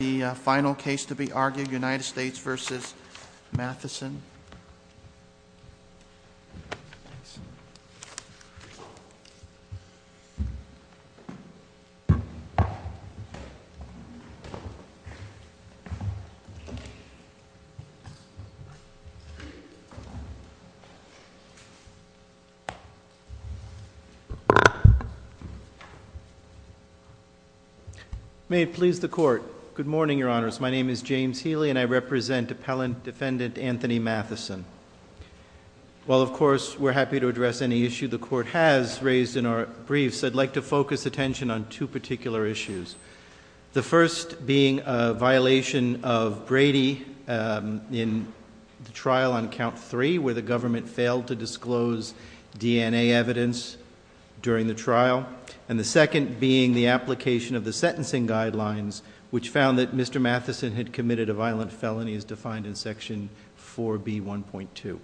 The final case to be argued, United States v. Matheson. May it please the Court, good morning, Your Honors. My name is James Healy, and I represent Appellant Defendant Anthony Matheson. While, of course, we're happy to address any issue the Court has raised in our briefs, I'd like to focus attention on two particular issues. The first being a violation of Brady in the trial on count three, where the government failed to disclose DNA evidence during the trial, and the second being the application of the sentencing guidelines, which found that Mr. Matheson had committed a violent felony as defined in section 4B1.2.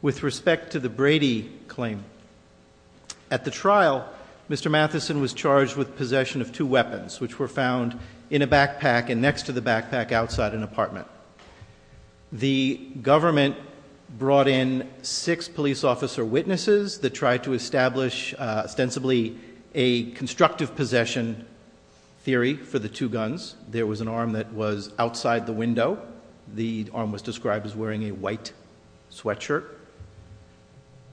With respect to the Brady claim, at the trial, Mr. Matheson was charged with possession of two weapons, which were found in a backpack and next to the backpack outside an apartment. The government brought in six police officer witnesses that tried to establish ostensibly a constructive possession theory for the two guns. There was an arm that was outside the window. The arm was described as wearing a white sweatshirt.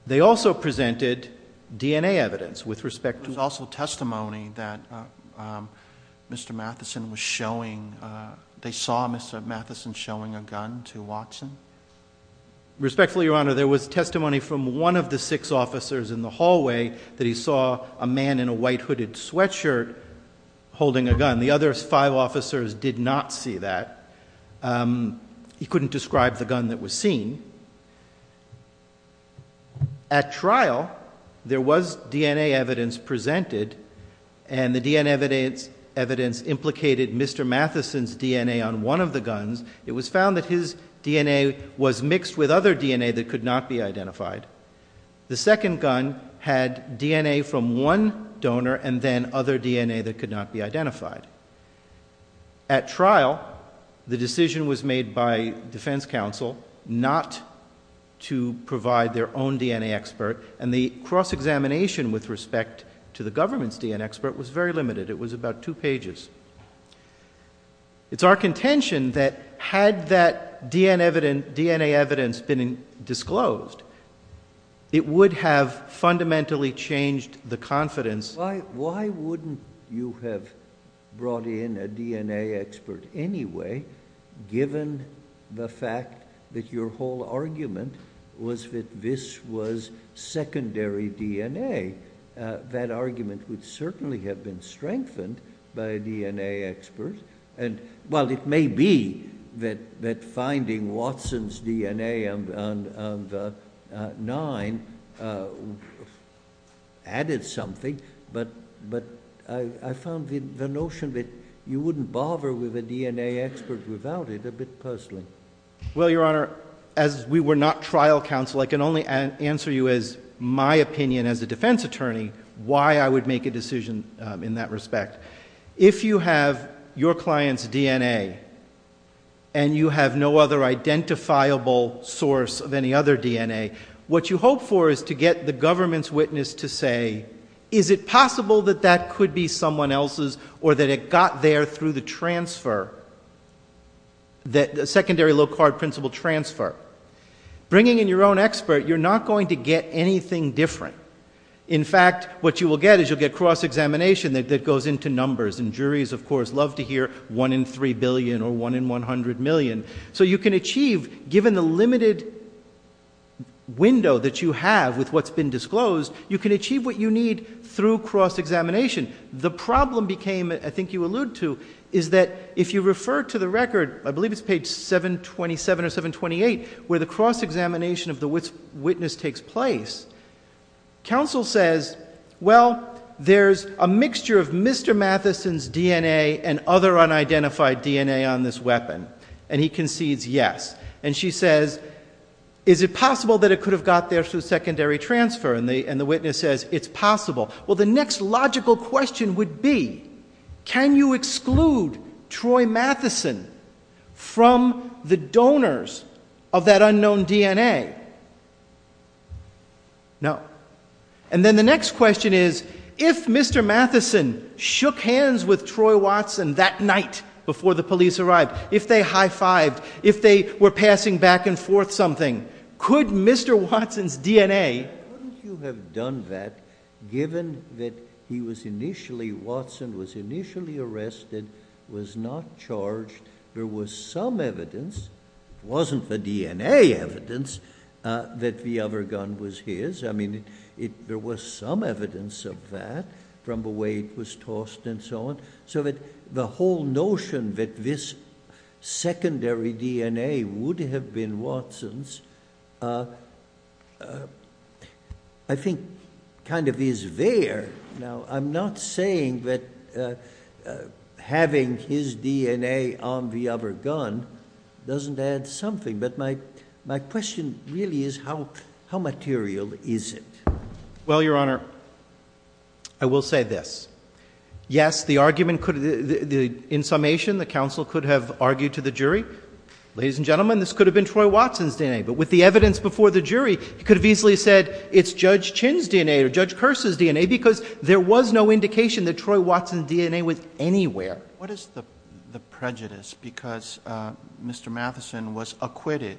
They also presented DNA evidence with respect to— There was also testimony that Mr. Matheson was showing—they saw Mr. Matheson showing a gun to Watson. Respectfully, Your Honor, there was testimony from one of the six officers in the hallway that he saw a man in a white hooded sweatshirt holding a gun. The other five officers did not see that. He couldn't describe the gun that was seen. At trial, there was DNA evidence presented, and the DNA evidence implicated Mr. Matheson's DNA on one of the guns. It was found that his DNA was mixed with other DNA that could not be identified. The second gun had DNA from one donor and then other DNA that could not be identified. At trial, the decision was made by defense counsel not to provide their own DNA expert, and the cross-examination with respect to the government's DNA expert was very limited. It was about two pages. It's our contention that had that DNA evidence been disclosed, it would have fundamentally changed the confidence— Why wouldn't you have brought in a DNA expert anyway, given the fact that your whole argument was that this was secondary DNA? That argument would certainly have been strengthened by a DNA expert. It may be that finding Watson's DNA on the nine added something, but I found the notion that you wouldn't bother with a DNA expert without it a bit personally. Well, Your Honor, as we were not trial counsel, I can only answer you as my opinion as a defense attorney, why I would make a decision in that respect. If you have your client's DNA and you have no other identifiable source of any other DNA, what you hope for is to get the government's witness to say, is it possible that that could be someone else's or that it got there through the transfer, the secondary low-card principle transfer? Bringing in your own expert, you're not going to get anything different. In fact, what you will get is you'll get cross-examination that goes into numbers, and juries, of course, love to hear one in three billion or one in 100 million. So you can achieve, given the limited window that you have with what's been disclosed, you can achieve what you need through cross-examination. The problem became, I think you alluded to, is that if you refer to the record, I believe it's page 727 or 728, where the cross-examination of the witness takes place, counsel says, well, there's a mixture of Mr. Matheson's DNA and other unidentified DNA on this weapon, and he concedes yes. And she says, is it possible that it could have got there through secondary transfer? And the witness says, it's possible. Well, the next logical question would be, can you exclude Troy Matheson from the donors of that unknown DNA? No. And then the next question is, if Mr. Matheson shook hands with Troy Watson that night before the police arrived, if they high-fived, if they were passing back and forth something, could Mr. Watson's DNA... Couldn't you have done that, given that he was initially, Watson was initially arrested, was not charged, there was some evidence, wasn't the DNA evidence, that the other gun was his? I mean, there was some evidence of that, from the way it was tossed and so on, so that the whole notion that this secondary DNA would have been Watson's, I think, kind of is there. Now, I'm not saying that having his DNA on the other gun doesn't add something, but my question really is, how material is it? Well, Your Honor, I will say this. Yes, the argument could, in summation, the counsel could have argued to the jury, ladies and gentlemen, this could have been Troy Watson's DNA, but with the evidence before the jury, he could have easily said, it's Judge Chin's DNA, or Judge Kers's DNA, because there was no indication that Troy Watson's DNA was anywhere. What is the prejudice, because Mr. Matheson was acquitted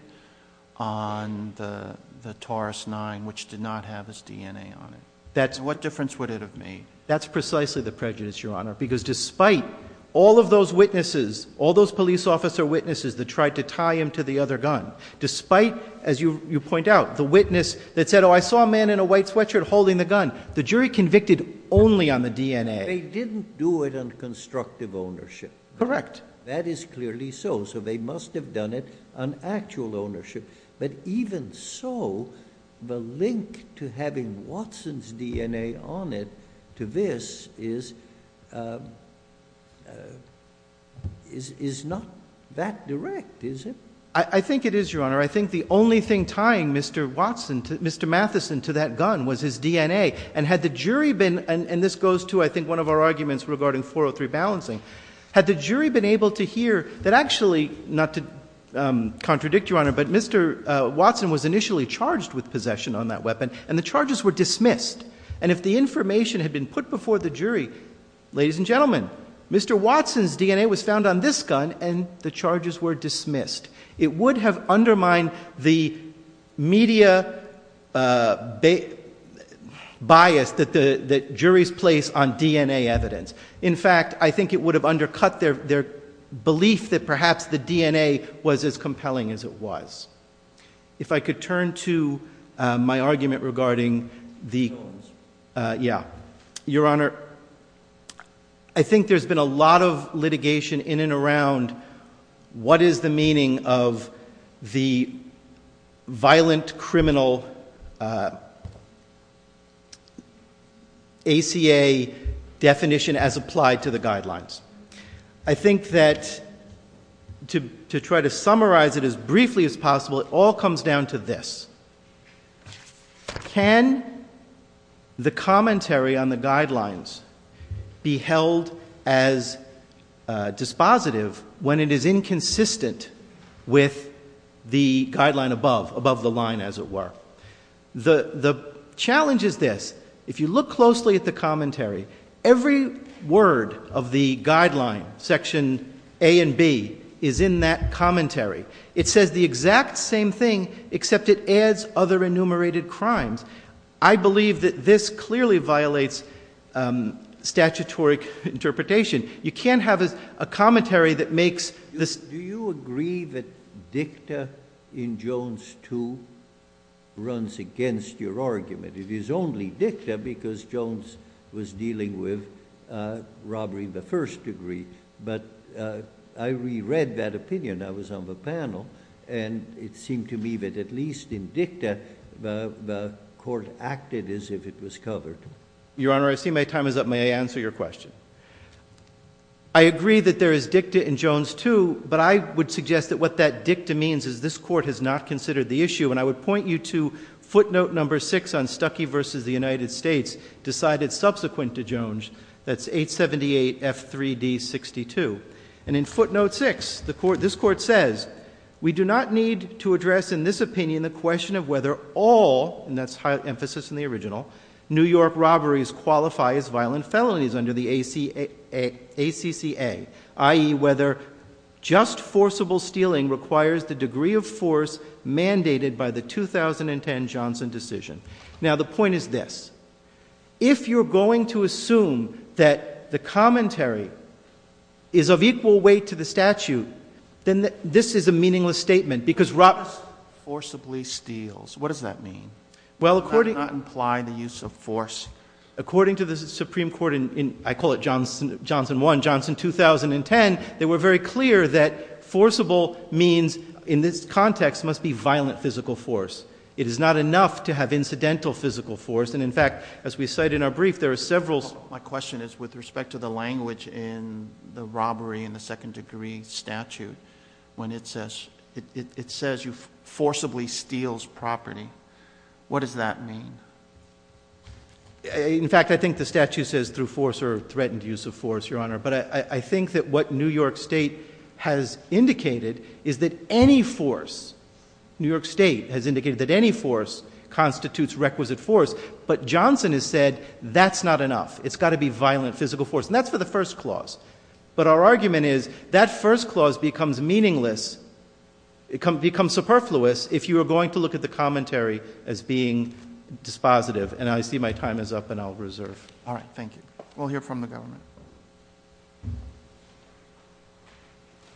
on the Taurus-9, which did not have his DNA on it? What difference would it have made? That's precisely the prejudice, Your Honor, because despite all of those witnesses, all those police officer witnesses that tried to tie him to the other gun, despite, as you point out, the witness that said, oh, I saw a man in a white sweatshirt holding the gun, the jury convicted only on the DNA. They didn't do it on constructive ownership. Correct. That is clearly so, so they must have done it on actual ownership, but even so, the link to having Watson's DNA on it to this is not that direct, is it? I think it is, Your Honor. I think the only thing tying Mr. Watson, Mr. Matheson, to that gun was his DNA, and had the jury been, and this goes to, I think, one of our arguments regarding 403 balancing, had the jury been able to hear that actually, not to contradict, Your Honor, but Mr. Watson was initially charged with possession on that weapon, and the charges were dismissed, and if the information had been put before the jury, ladies and gentlemen, Mr. Watson's DNA was found on this gun, and the charges were dismissed. It would have undermined the media bias that juries place on DNA evidence. In fact, I think it would have undercut their belief that perhaps the DNA was as compelling as it was. If I could turn to my argument regarding the, yeah, Your Honor, I think there's been a lot of litigation in and around what is the meaning of the violent criminal ACA definition as applied to the guidelines. I think that to try to summarize it as briefly as possible, it all comes down to this. Can the commentary on the guidelines be held as dispositive when it is inconsistent with the guideline above, above the line, as it were? The challenge is this. If you look closely at the commentary, every word of the guideline, section A and B, is in that commentary. It says the exact same thing, except it adds other enumerated crimes. I believe that this clearly violates statutory interpretation. You can't have a commentary that makes this— Do you agree that dicta in Jones 2 runs against your argument? It is only dicta because Jones was dealing with robbery in the first degree, but I reread that opinion. I was on the panel, and it seemed to me that at least in dicta, the court acted as if it was covered. Your Honor, I see my time is up. May I answer your question? I agree that there is dicta in Jones 2, but I would suggest that what that dicta means is this court has not considered the issue, and I would point you to footnote number 6 on Stuckey v. The United States decided subsequent to Jones, that's 878F3D62. And in footnote 6, this court says, We do not need to address in this opinion the question of whether all—and that's high emphasis in the original—New York robberies qualify as violent felonies under the ACCA, i.e. whether just forcible stealing requires the degree of force mandated by the 2010 Johnson decision. Now, the point is this. If you're going to assume that the commentary is of equal weight to the statute, then this is a meaningless statement, because robberies— Forcibly steals. What does that mean? Does that not imply the use of force? According to the Supreme Court in, I call it Johnson 1, Johnson 2010, they were very clear that forcible means, in this context, must be violent physical force. It is not enough to have incidental physical force, and in fact, as we cite in our brief, there are several— My question is with respect to the language in the robbery in the second degree statute when it says, it says you forcibly steals property. What does that mean? In fact, I think the statute says through force or threatened use of force, Your Honor. But I think that what New York State has indicated is that any force, New York State has indicated that any force constitutes requisite force, but Johnson has said that's not enough. It's got to be violent physical force, and that's for the first clause. But our argument is that first clause becomes meaningless, it becomes superfluous if you are going to look at the commentary as being dispositive, and I see my time is up, and I'll reserve. All right. Thank you. We'll hear from the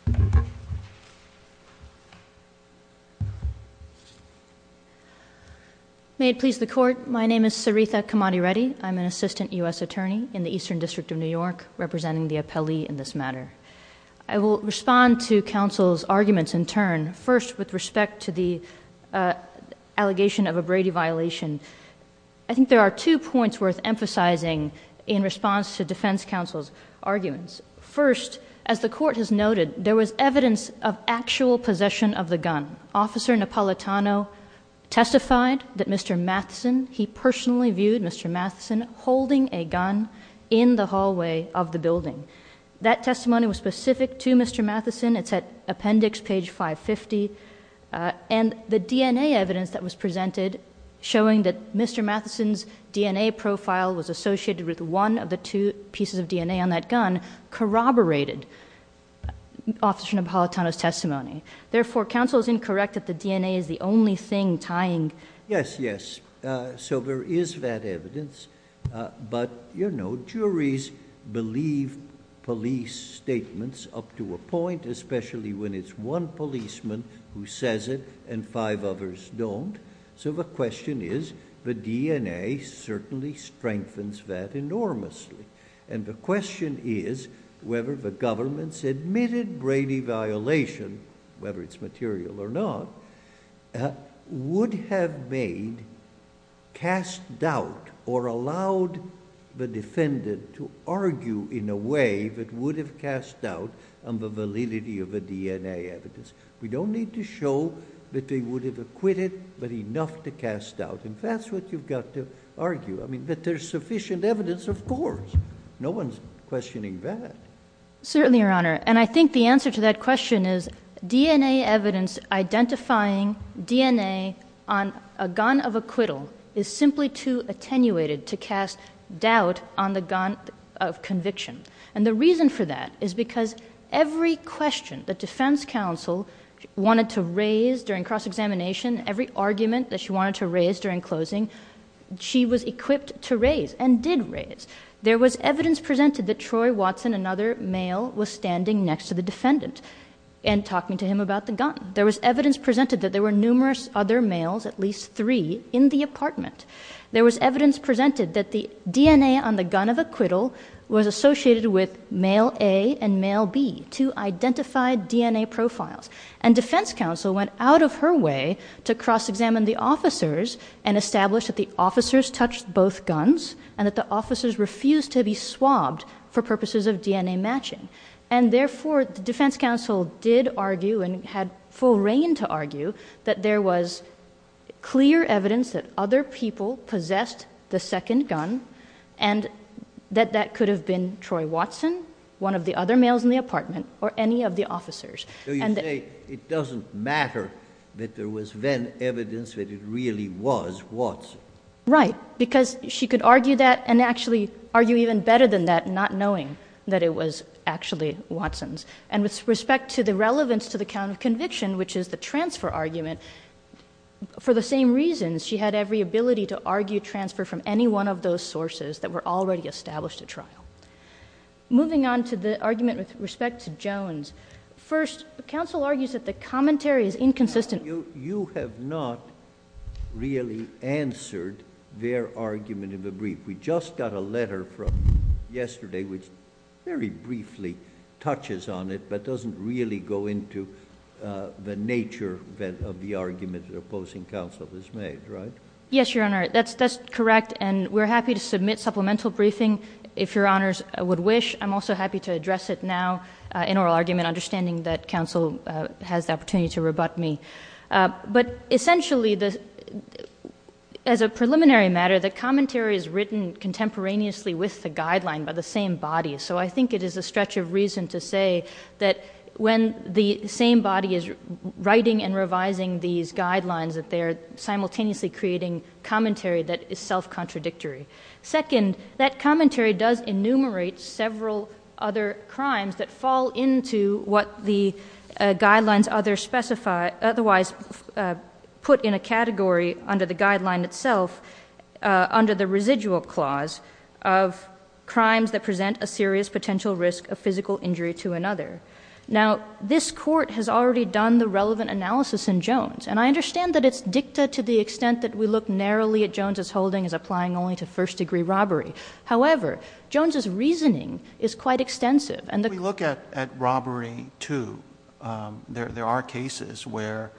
government. May it please the Court, my name is Sarita Kamadi Reddy. I'm an assistant U.S. attorney in the Eastern District of New York, representing the appellee in this matter. I will respond to counsel's arguments in turn. First, with respect to the allegation of a Brady violation, I think there are two points worth emphasizing in response to defense counsel's arguments. First, as the Court has noted, there was evidence of actual possession of the gun. Officer Napolitano testified that Mr. Matheson, he personally viewed Mr. Matheson holding a gun in the hallway of the building. That testimony was specific to Mr. Matheson, it's at appendix page 550, and the DNA evidence that was presented, showing that Mr. Matheson's DNA profile was associated with one of the two pieces of DNA on that gun, corroborated Officer Napolitano's testimony. Therefore, counsel's incorrect that the DNA is the only thing tying. Yes, yes. So there is that evidence, but you know, juries believe police statements up to a point, especially when it's one policeman who says it and five others don't. So the question is, the DNA certainly strengthens that enormously. And the question is whether the government's admitted Brady violation, whether it's material or not, would have made, cast doubt, or allowed the defendant to argue in a way that would have cast doubt on the validity of the DNA evidence. We don't need to show that they would have acquitted, but enough to cast doubt. And that's what you've got to argue. I mean, that there's sufficient evidence, of course. No one's questioning that. Certainly, Your Honor. And I think the answer to that question is, DNA evidence identifying DNA on a gun of acquittal is simply too attenuated to cast doubt on the gun of conviction. And the reason for that is because every question that defense counsel wanted to raise during cross-examination, every argument that she wanted to raise during closing, she was equipped to raise and did raise. There was evidence presented that Troy Watson, another male, was standing next to the defendant and talking to him about the gun. There was evidence presented that there were numerous other males, at least three, in the apartment. There was evidence presented that the DNA on the gun of acquittal was associated with male A and male B, two identified DNA profiles. And defense counsel went out of her way to cross-examine the officers and establish that the officers touched both guns and that the officers refused to be swabbed for purposes of DNA matching. And therefore, the defense counsel did argue and had full reign to argue that there was clear evidence that other people possessed the second gun and that that could have been Troy Watson, one of the other males in the apartment, or any of the officers. So you say it doesn't matter that there was then evidence that it really was Watson. Right, because she could argue that and actually argue even better than that not knowing that it was actually Watson's. And with respect to the relevance to the count of conviction, which is the transfer argument, for the same reasons she had every ability to argue transfer from any one of those sources that were already established at trial. Moving on to the argument with respect to Jones. First, counsel argues that the commentary is inconsistent. You have not really answered their argument in the brief. We just got a letter from yesterday which very briefly touches on it, but doesn't really go into the nature of the argument that opposing counsel has made, right? Yes, Your Honor, that's correct. And we're happy to submit supplemental briefing if Your Honor. I'm also happy to address it now in oral argument, understanding that counsel has the opportunity to rebut me. But essentially, as a preliminary matter, the commentary is written contemporaneously with the guideline by the same body. So I think it is a stretch of reason to say that when the same body is writing and revising these guidelines that they're simultaneously creating commentary that is self-contradictory. Second, that commentary does enumerate several other crimes that fall into what the guidelines other specify, otherwise put in a category under the guideline itself, under the residual clause of crimes that present a serious potential risk of physical injury to another. Now, this court has already done the relevant analysis in Jones, and I understand that it's dicta to the extent that we look narrowly at Jones's holding as applying only to first-degree robbery. However, Jones's reasoning is quite extensive. We look at robbery, too. There are cases where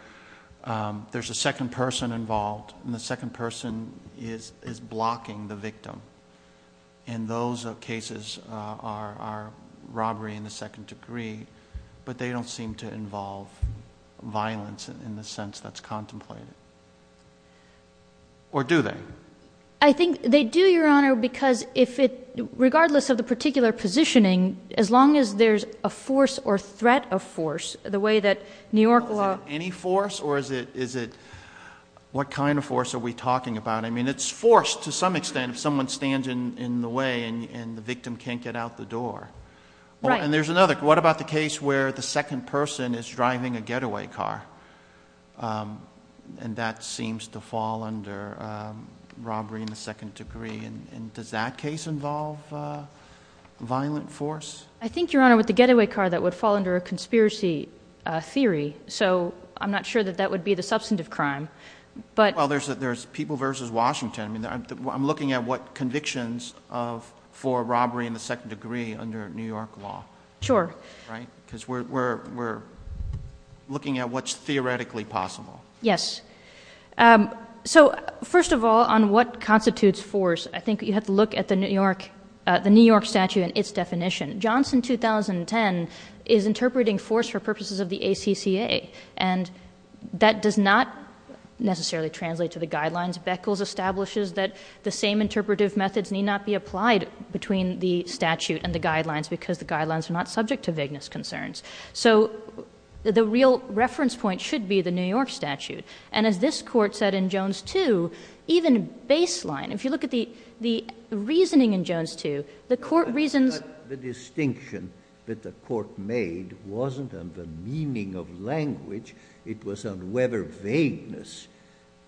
there's a second person involved, and the second person is blocking the victim. And those cases are robbery in the second degree, but they don't seem to involve violence in the sense that's contemplated. Or do they? I think they do, Your Honor, because regardless of the particular positioning, as long as there's a force or threat of force, the way that New York law... Is it any force, or is it... What kind of force are we talking about? I mean, it's force to some extent if someone stands in the way and the victim can't get out the door. Right. And there's another. What about the case where the second person is driving a getaway car, and that seems to fall under robbery in the second degree? And does that case involve violent force? I think, Your Honor, with the getaway car, that would fall under a conspiracy theory, so I'm not sure that that would be the substantive crime, but... Well, there's people versus Washington. I mean, I'm looking at what convictions for robbery in the second degree under New York law. Sure. Right? Because we're looking at what's theoretically possible. Yes. So, first of all, on what constitutes force, I think you have to look at the New York statute and its definition. Johnson 2010 is interpreting force for purposes of the ACCA, and that does not necessarily translate to the guidelines. Beckles establishes that the same interpretive methods need not be applied between the statute and the guidelines because the guidelines are not subject to vagueness concerns. So the real reference point should be the New York statute. And as this Court said in Jones 2, even baseline, if you look at the reasoning in Jones 2, the Court reasons... The distinction that the Court made wasn't on the meaning of language. It was on whether vagueness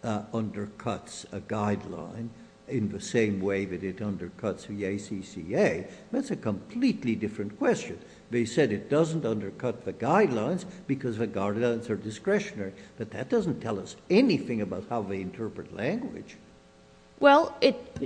undercuts a guideline in the same way that it undercuts the ACCA. That's a completely different question. They said it doesn't undercut the guidelines because the guidelines are discretionary, but that doesn't tell us anything about how they interpret language. Well,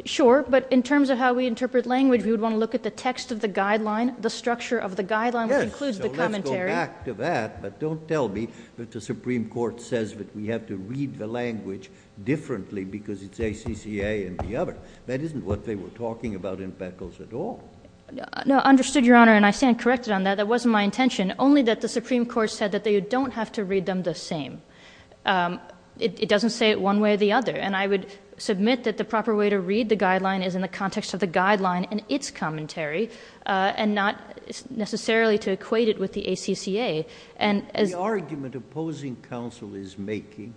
sure, but in terms of how we interpret language, we would want to look at the text of the guideline, the structure of the guideline, which includes the commentary. I'll go back to that, but don't tell me that the Supreme Court says that we have to read the language differently because it's ACCA and the other. That isn't what they were talking about in Beckles at all. No, understood, Your Honor, and I stand corrected on that. That wasn't my intention. Only that the Supreme Court said that you don't have to read them the same. It doesn't say it one way or the other. And I would submit that the proper way to read the guideline is in the ACCA. The argument opposing counsel is making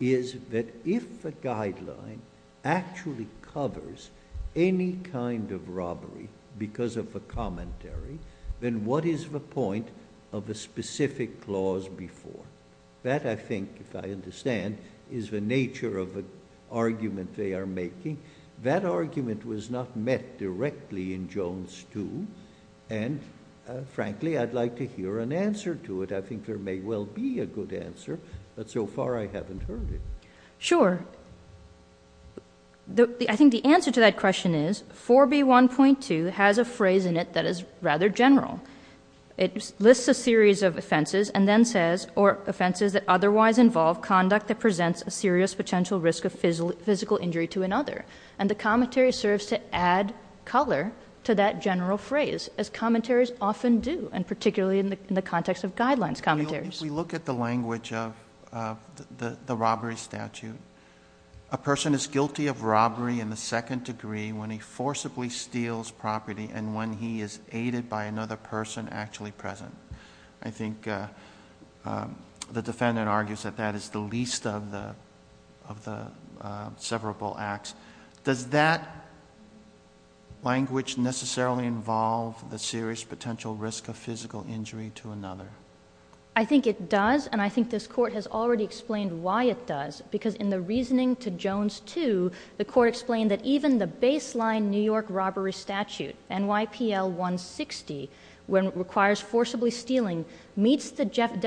is that if the guideline actually covers any kind of robbery because of the commentary, then what is the point of a specific clause before? That, I think, if I understand, is the nature of the argument they are making. That argument was not met directly in Jones 2, and frankly, I'd like to hear an answer to it. I think there may well be a good answer, but so far I haven't heard it. Sure. I think the answer to that question is 4B1.2 has a phrase in it that is rather general. It lists a series of offenses and then says, or offenses that otherwise involve conduct that presents a serious potential risk of physical injury to another. And the commentary serves to add color to that general phrase, as commentaries often do, and particularly in the context of guidelines commentaries. If we look at the language of the robbery statute, a person is guilty of robbery in the second degree when he forcibly steals property and when he is aided by another person actually present. I think the defendant argues that that is the least of the severable acts. Does that language necessarily involve the serious potential risk of physical injury to another? I think it does, and I think this Court has already explained why it does, because in the reasoning to Jones 2, the Court explained that even the baseline New York robbery statute, NYPL 160, when it requires forcibly stealing, meets the generic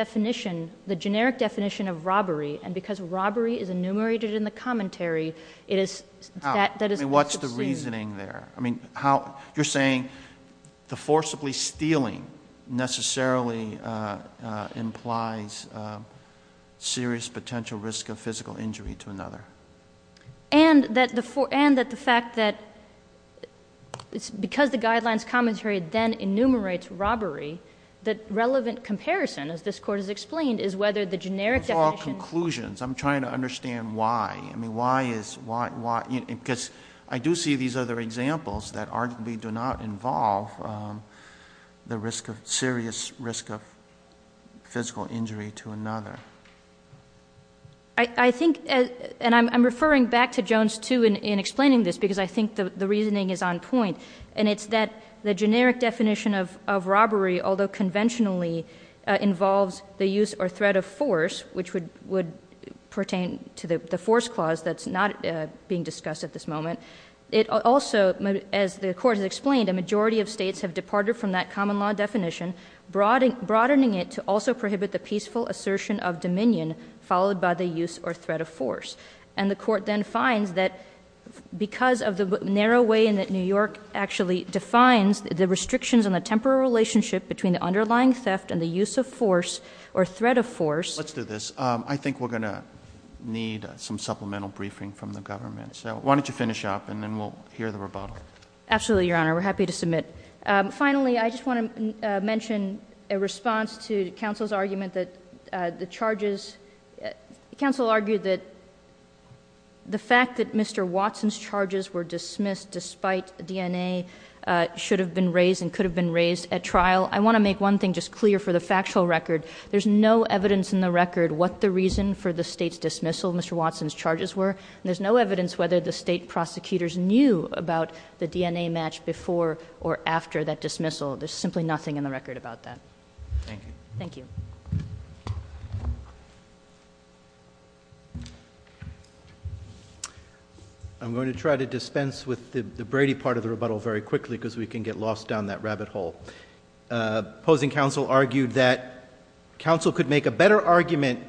definition of robbery, and because robbery is enumerated in the commentary, it is that that is what is seen. What's the reasoning there? You're saying the forcibly stealing necessarily implies serious potential risk of physical injury to another. And that the fact that because the guidelines commentary then enumerates robbery, that relevant comparison, as this Court has explained, is whether the generic definition It's all conclusions. I'm trying to understand why. I mean, why is, why, because I do see these other examples that arguably do not involve the risk of, serious risk of physical injury to another. I think, and I'm referring back to Jones 2 in explaining this, because I think the reasoning is on point, and it's that the generic definition of robbery, although conventionally involves the use or threat of force, which would pertain to the force clause that's not being discussed at this moment, it also, as the Court has explained, a majority of states have departed from that common law definition, broadening it to also prohibit the peaceful assertion of dominion, followed by the use or threat of force. And the Court then finds that because of the narrow way in that New York actually defines the restrictions on the temporal relationship between the underlying theft and the use of force, or threat of force Let's do this. I think we're going to need some supplemental briefing from the government. So why don't you finish up, and then we'll hear the rebuttal. Absolutely, Your Honor. We're happy to submit. Finally, I just want to mention a response to counsel's argument that the charges, counsel argued that the fact that Mr. Watson's charges were dismissed despite DNA should have been raised and could have been raised at trial. I want to make one thing just clear for the factual record. There's no evidence in the record what the reason for the State's dismissal of Mr. Watson's charges were, and there's no evidence whether the State prosecutors knew about the DNA match before or after that dismissal. There's simply nothing in the record about that. Thank you. Thank you. I'm going to try to dispense with the Brady part of the rebuttal very quickly because we can get lost down that rabbit hole. Opposing counsel argued that counsel could make a better argument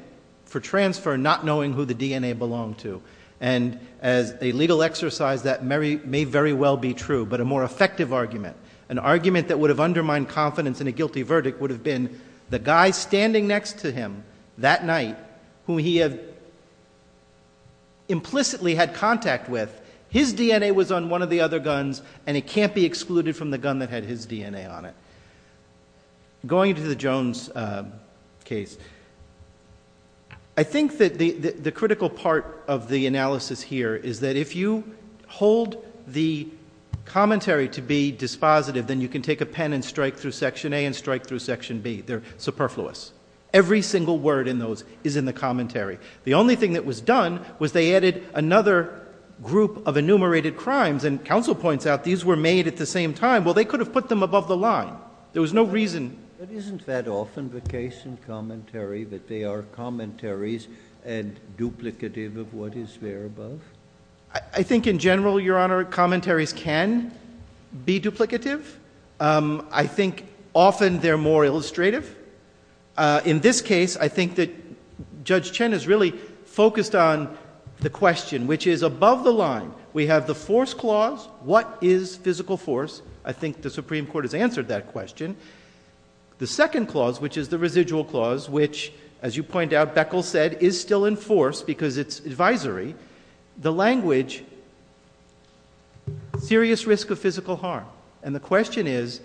for transfer not knowing who the DNA belonged to, and as a legal exercise that may very well be true, but a more effective argument, an argument that would have undermined confidence in a guilty verdict would have been the guy standing next to him that night who he had implicitly had contact with, his DNA was on one of the other guns and it can't be excluded from the gun that had his DNA on it. Going to the Jones case, I think that the critical part of the analysis here is that if you hold the commentary to be dispositive, then you can take a pen and strike through section A and strike through section B. They're superfluous. Every single word in those is in the commentary. The only thing that was done was they added another group of enumerated crimes, and counsel points out these were made at the same time. Well, they could have put them above the line. There was no reason... But isn't that often the case in commentary, that they are commentaries and duplicative of what is there above? I think in general, Your Honor, commentaries can be duplicative. I think often they're more illustrative. In this case, I think that Judge Chen has really focused on the question, which is above the line. We have the force clause. What is physical force? I think the Supreme Court has answered that question. The second clause, which is the residual clause, which, as you point out, Beckel said, is still in force because it's advisory, the language, serious risk of physical harm. The question is,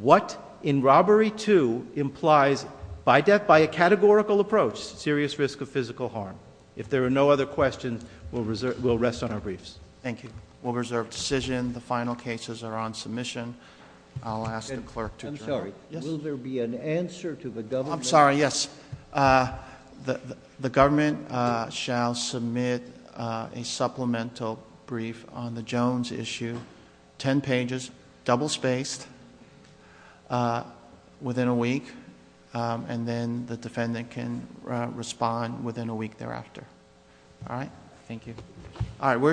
what in robbery two implies by a categorical approach serious risk of physical harm? If there are no other questions, we'll rest on our briefs. Thank you. We'll reserve decision. The final cases are on submission. I'll ask the clerk to adjourn. I'm sorry, yes. The government shall submit a supplemental brief on the Jones issue, ten pages, double spaced, within a week, and then the defendant can respond within a week thereafter. All right? Thank you. All right, we're adjourned.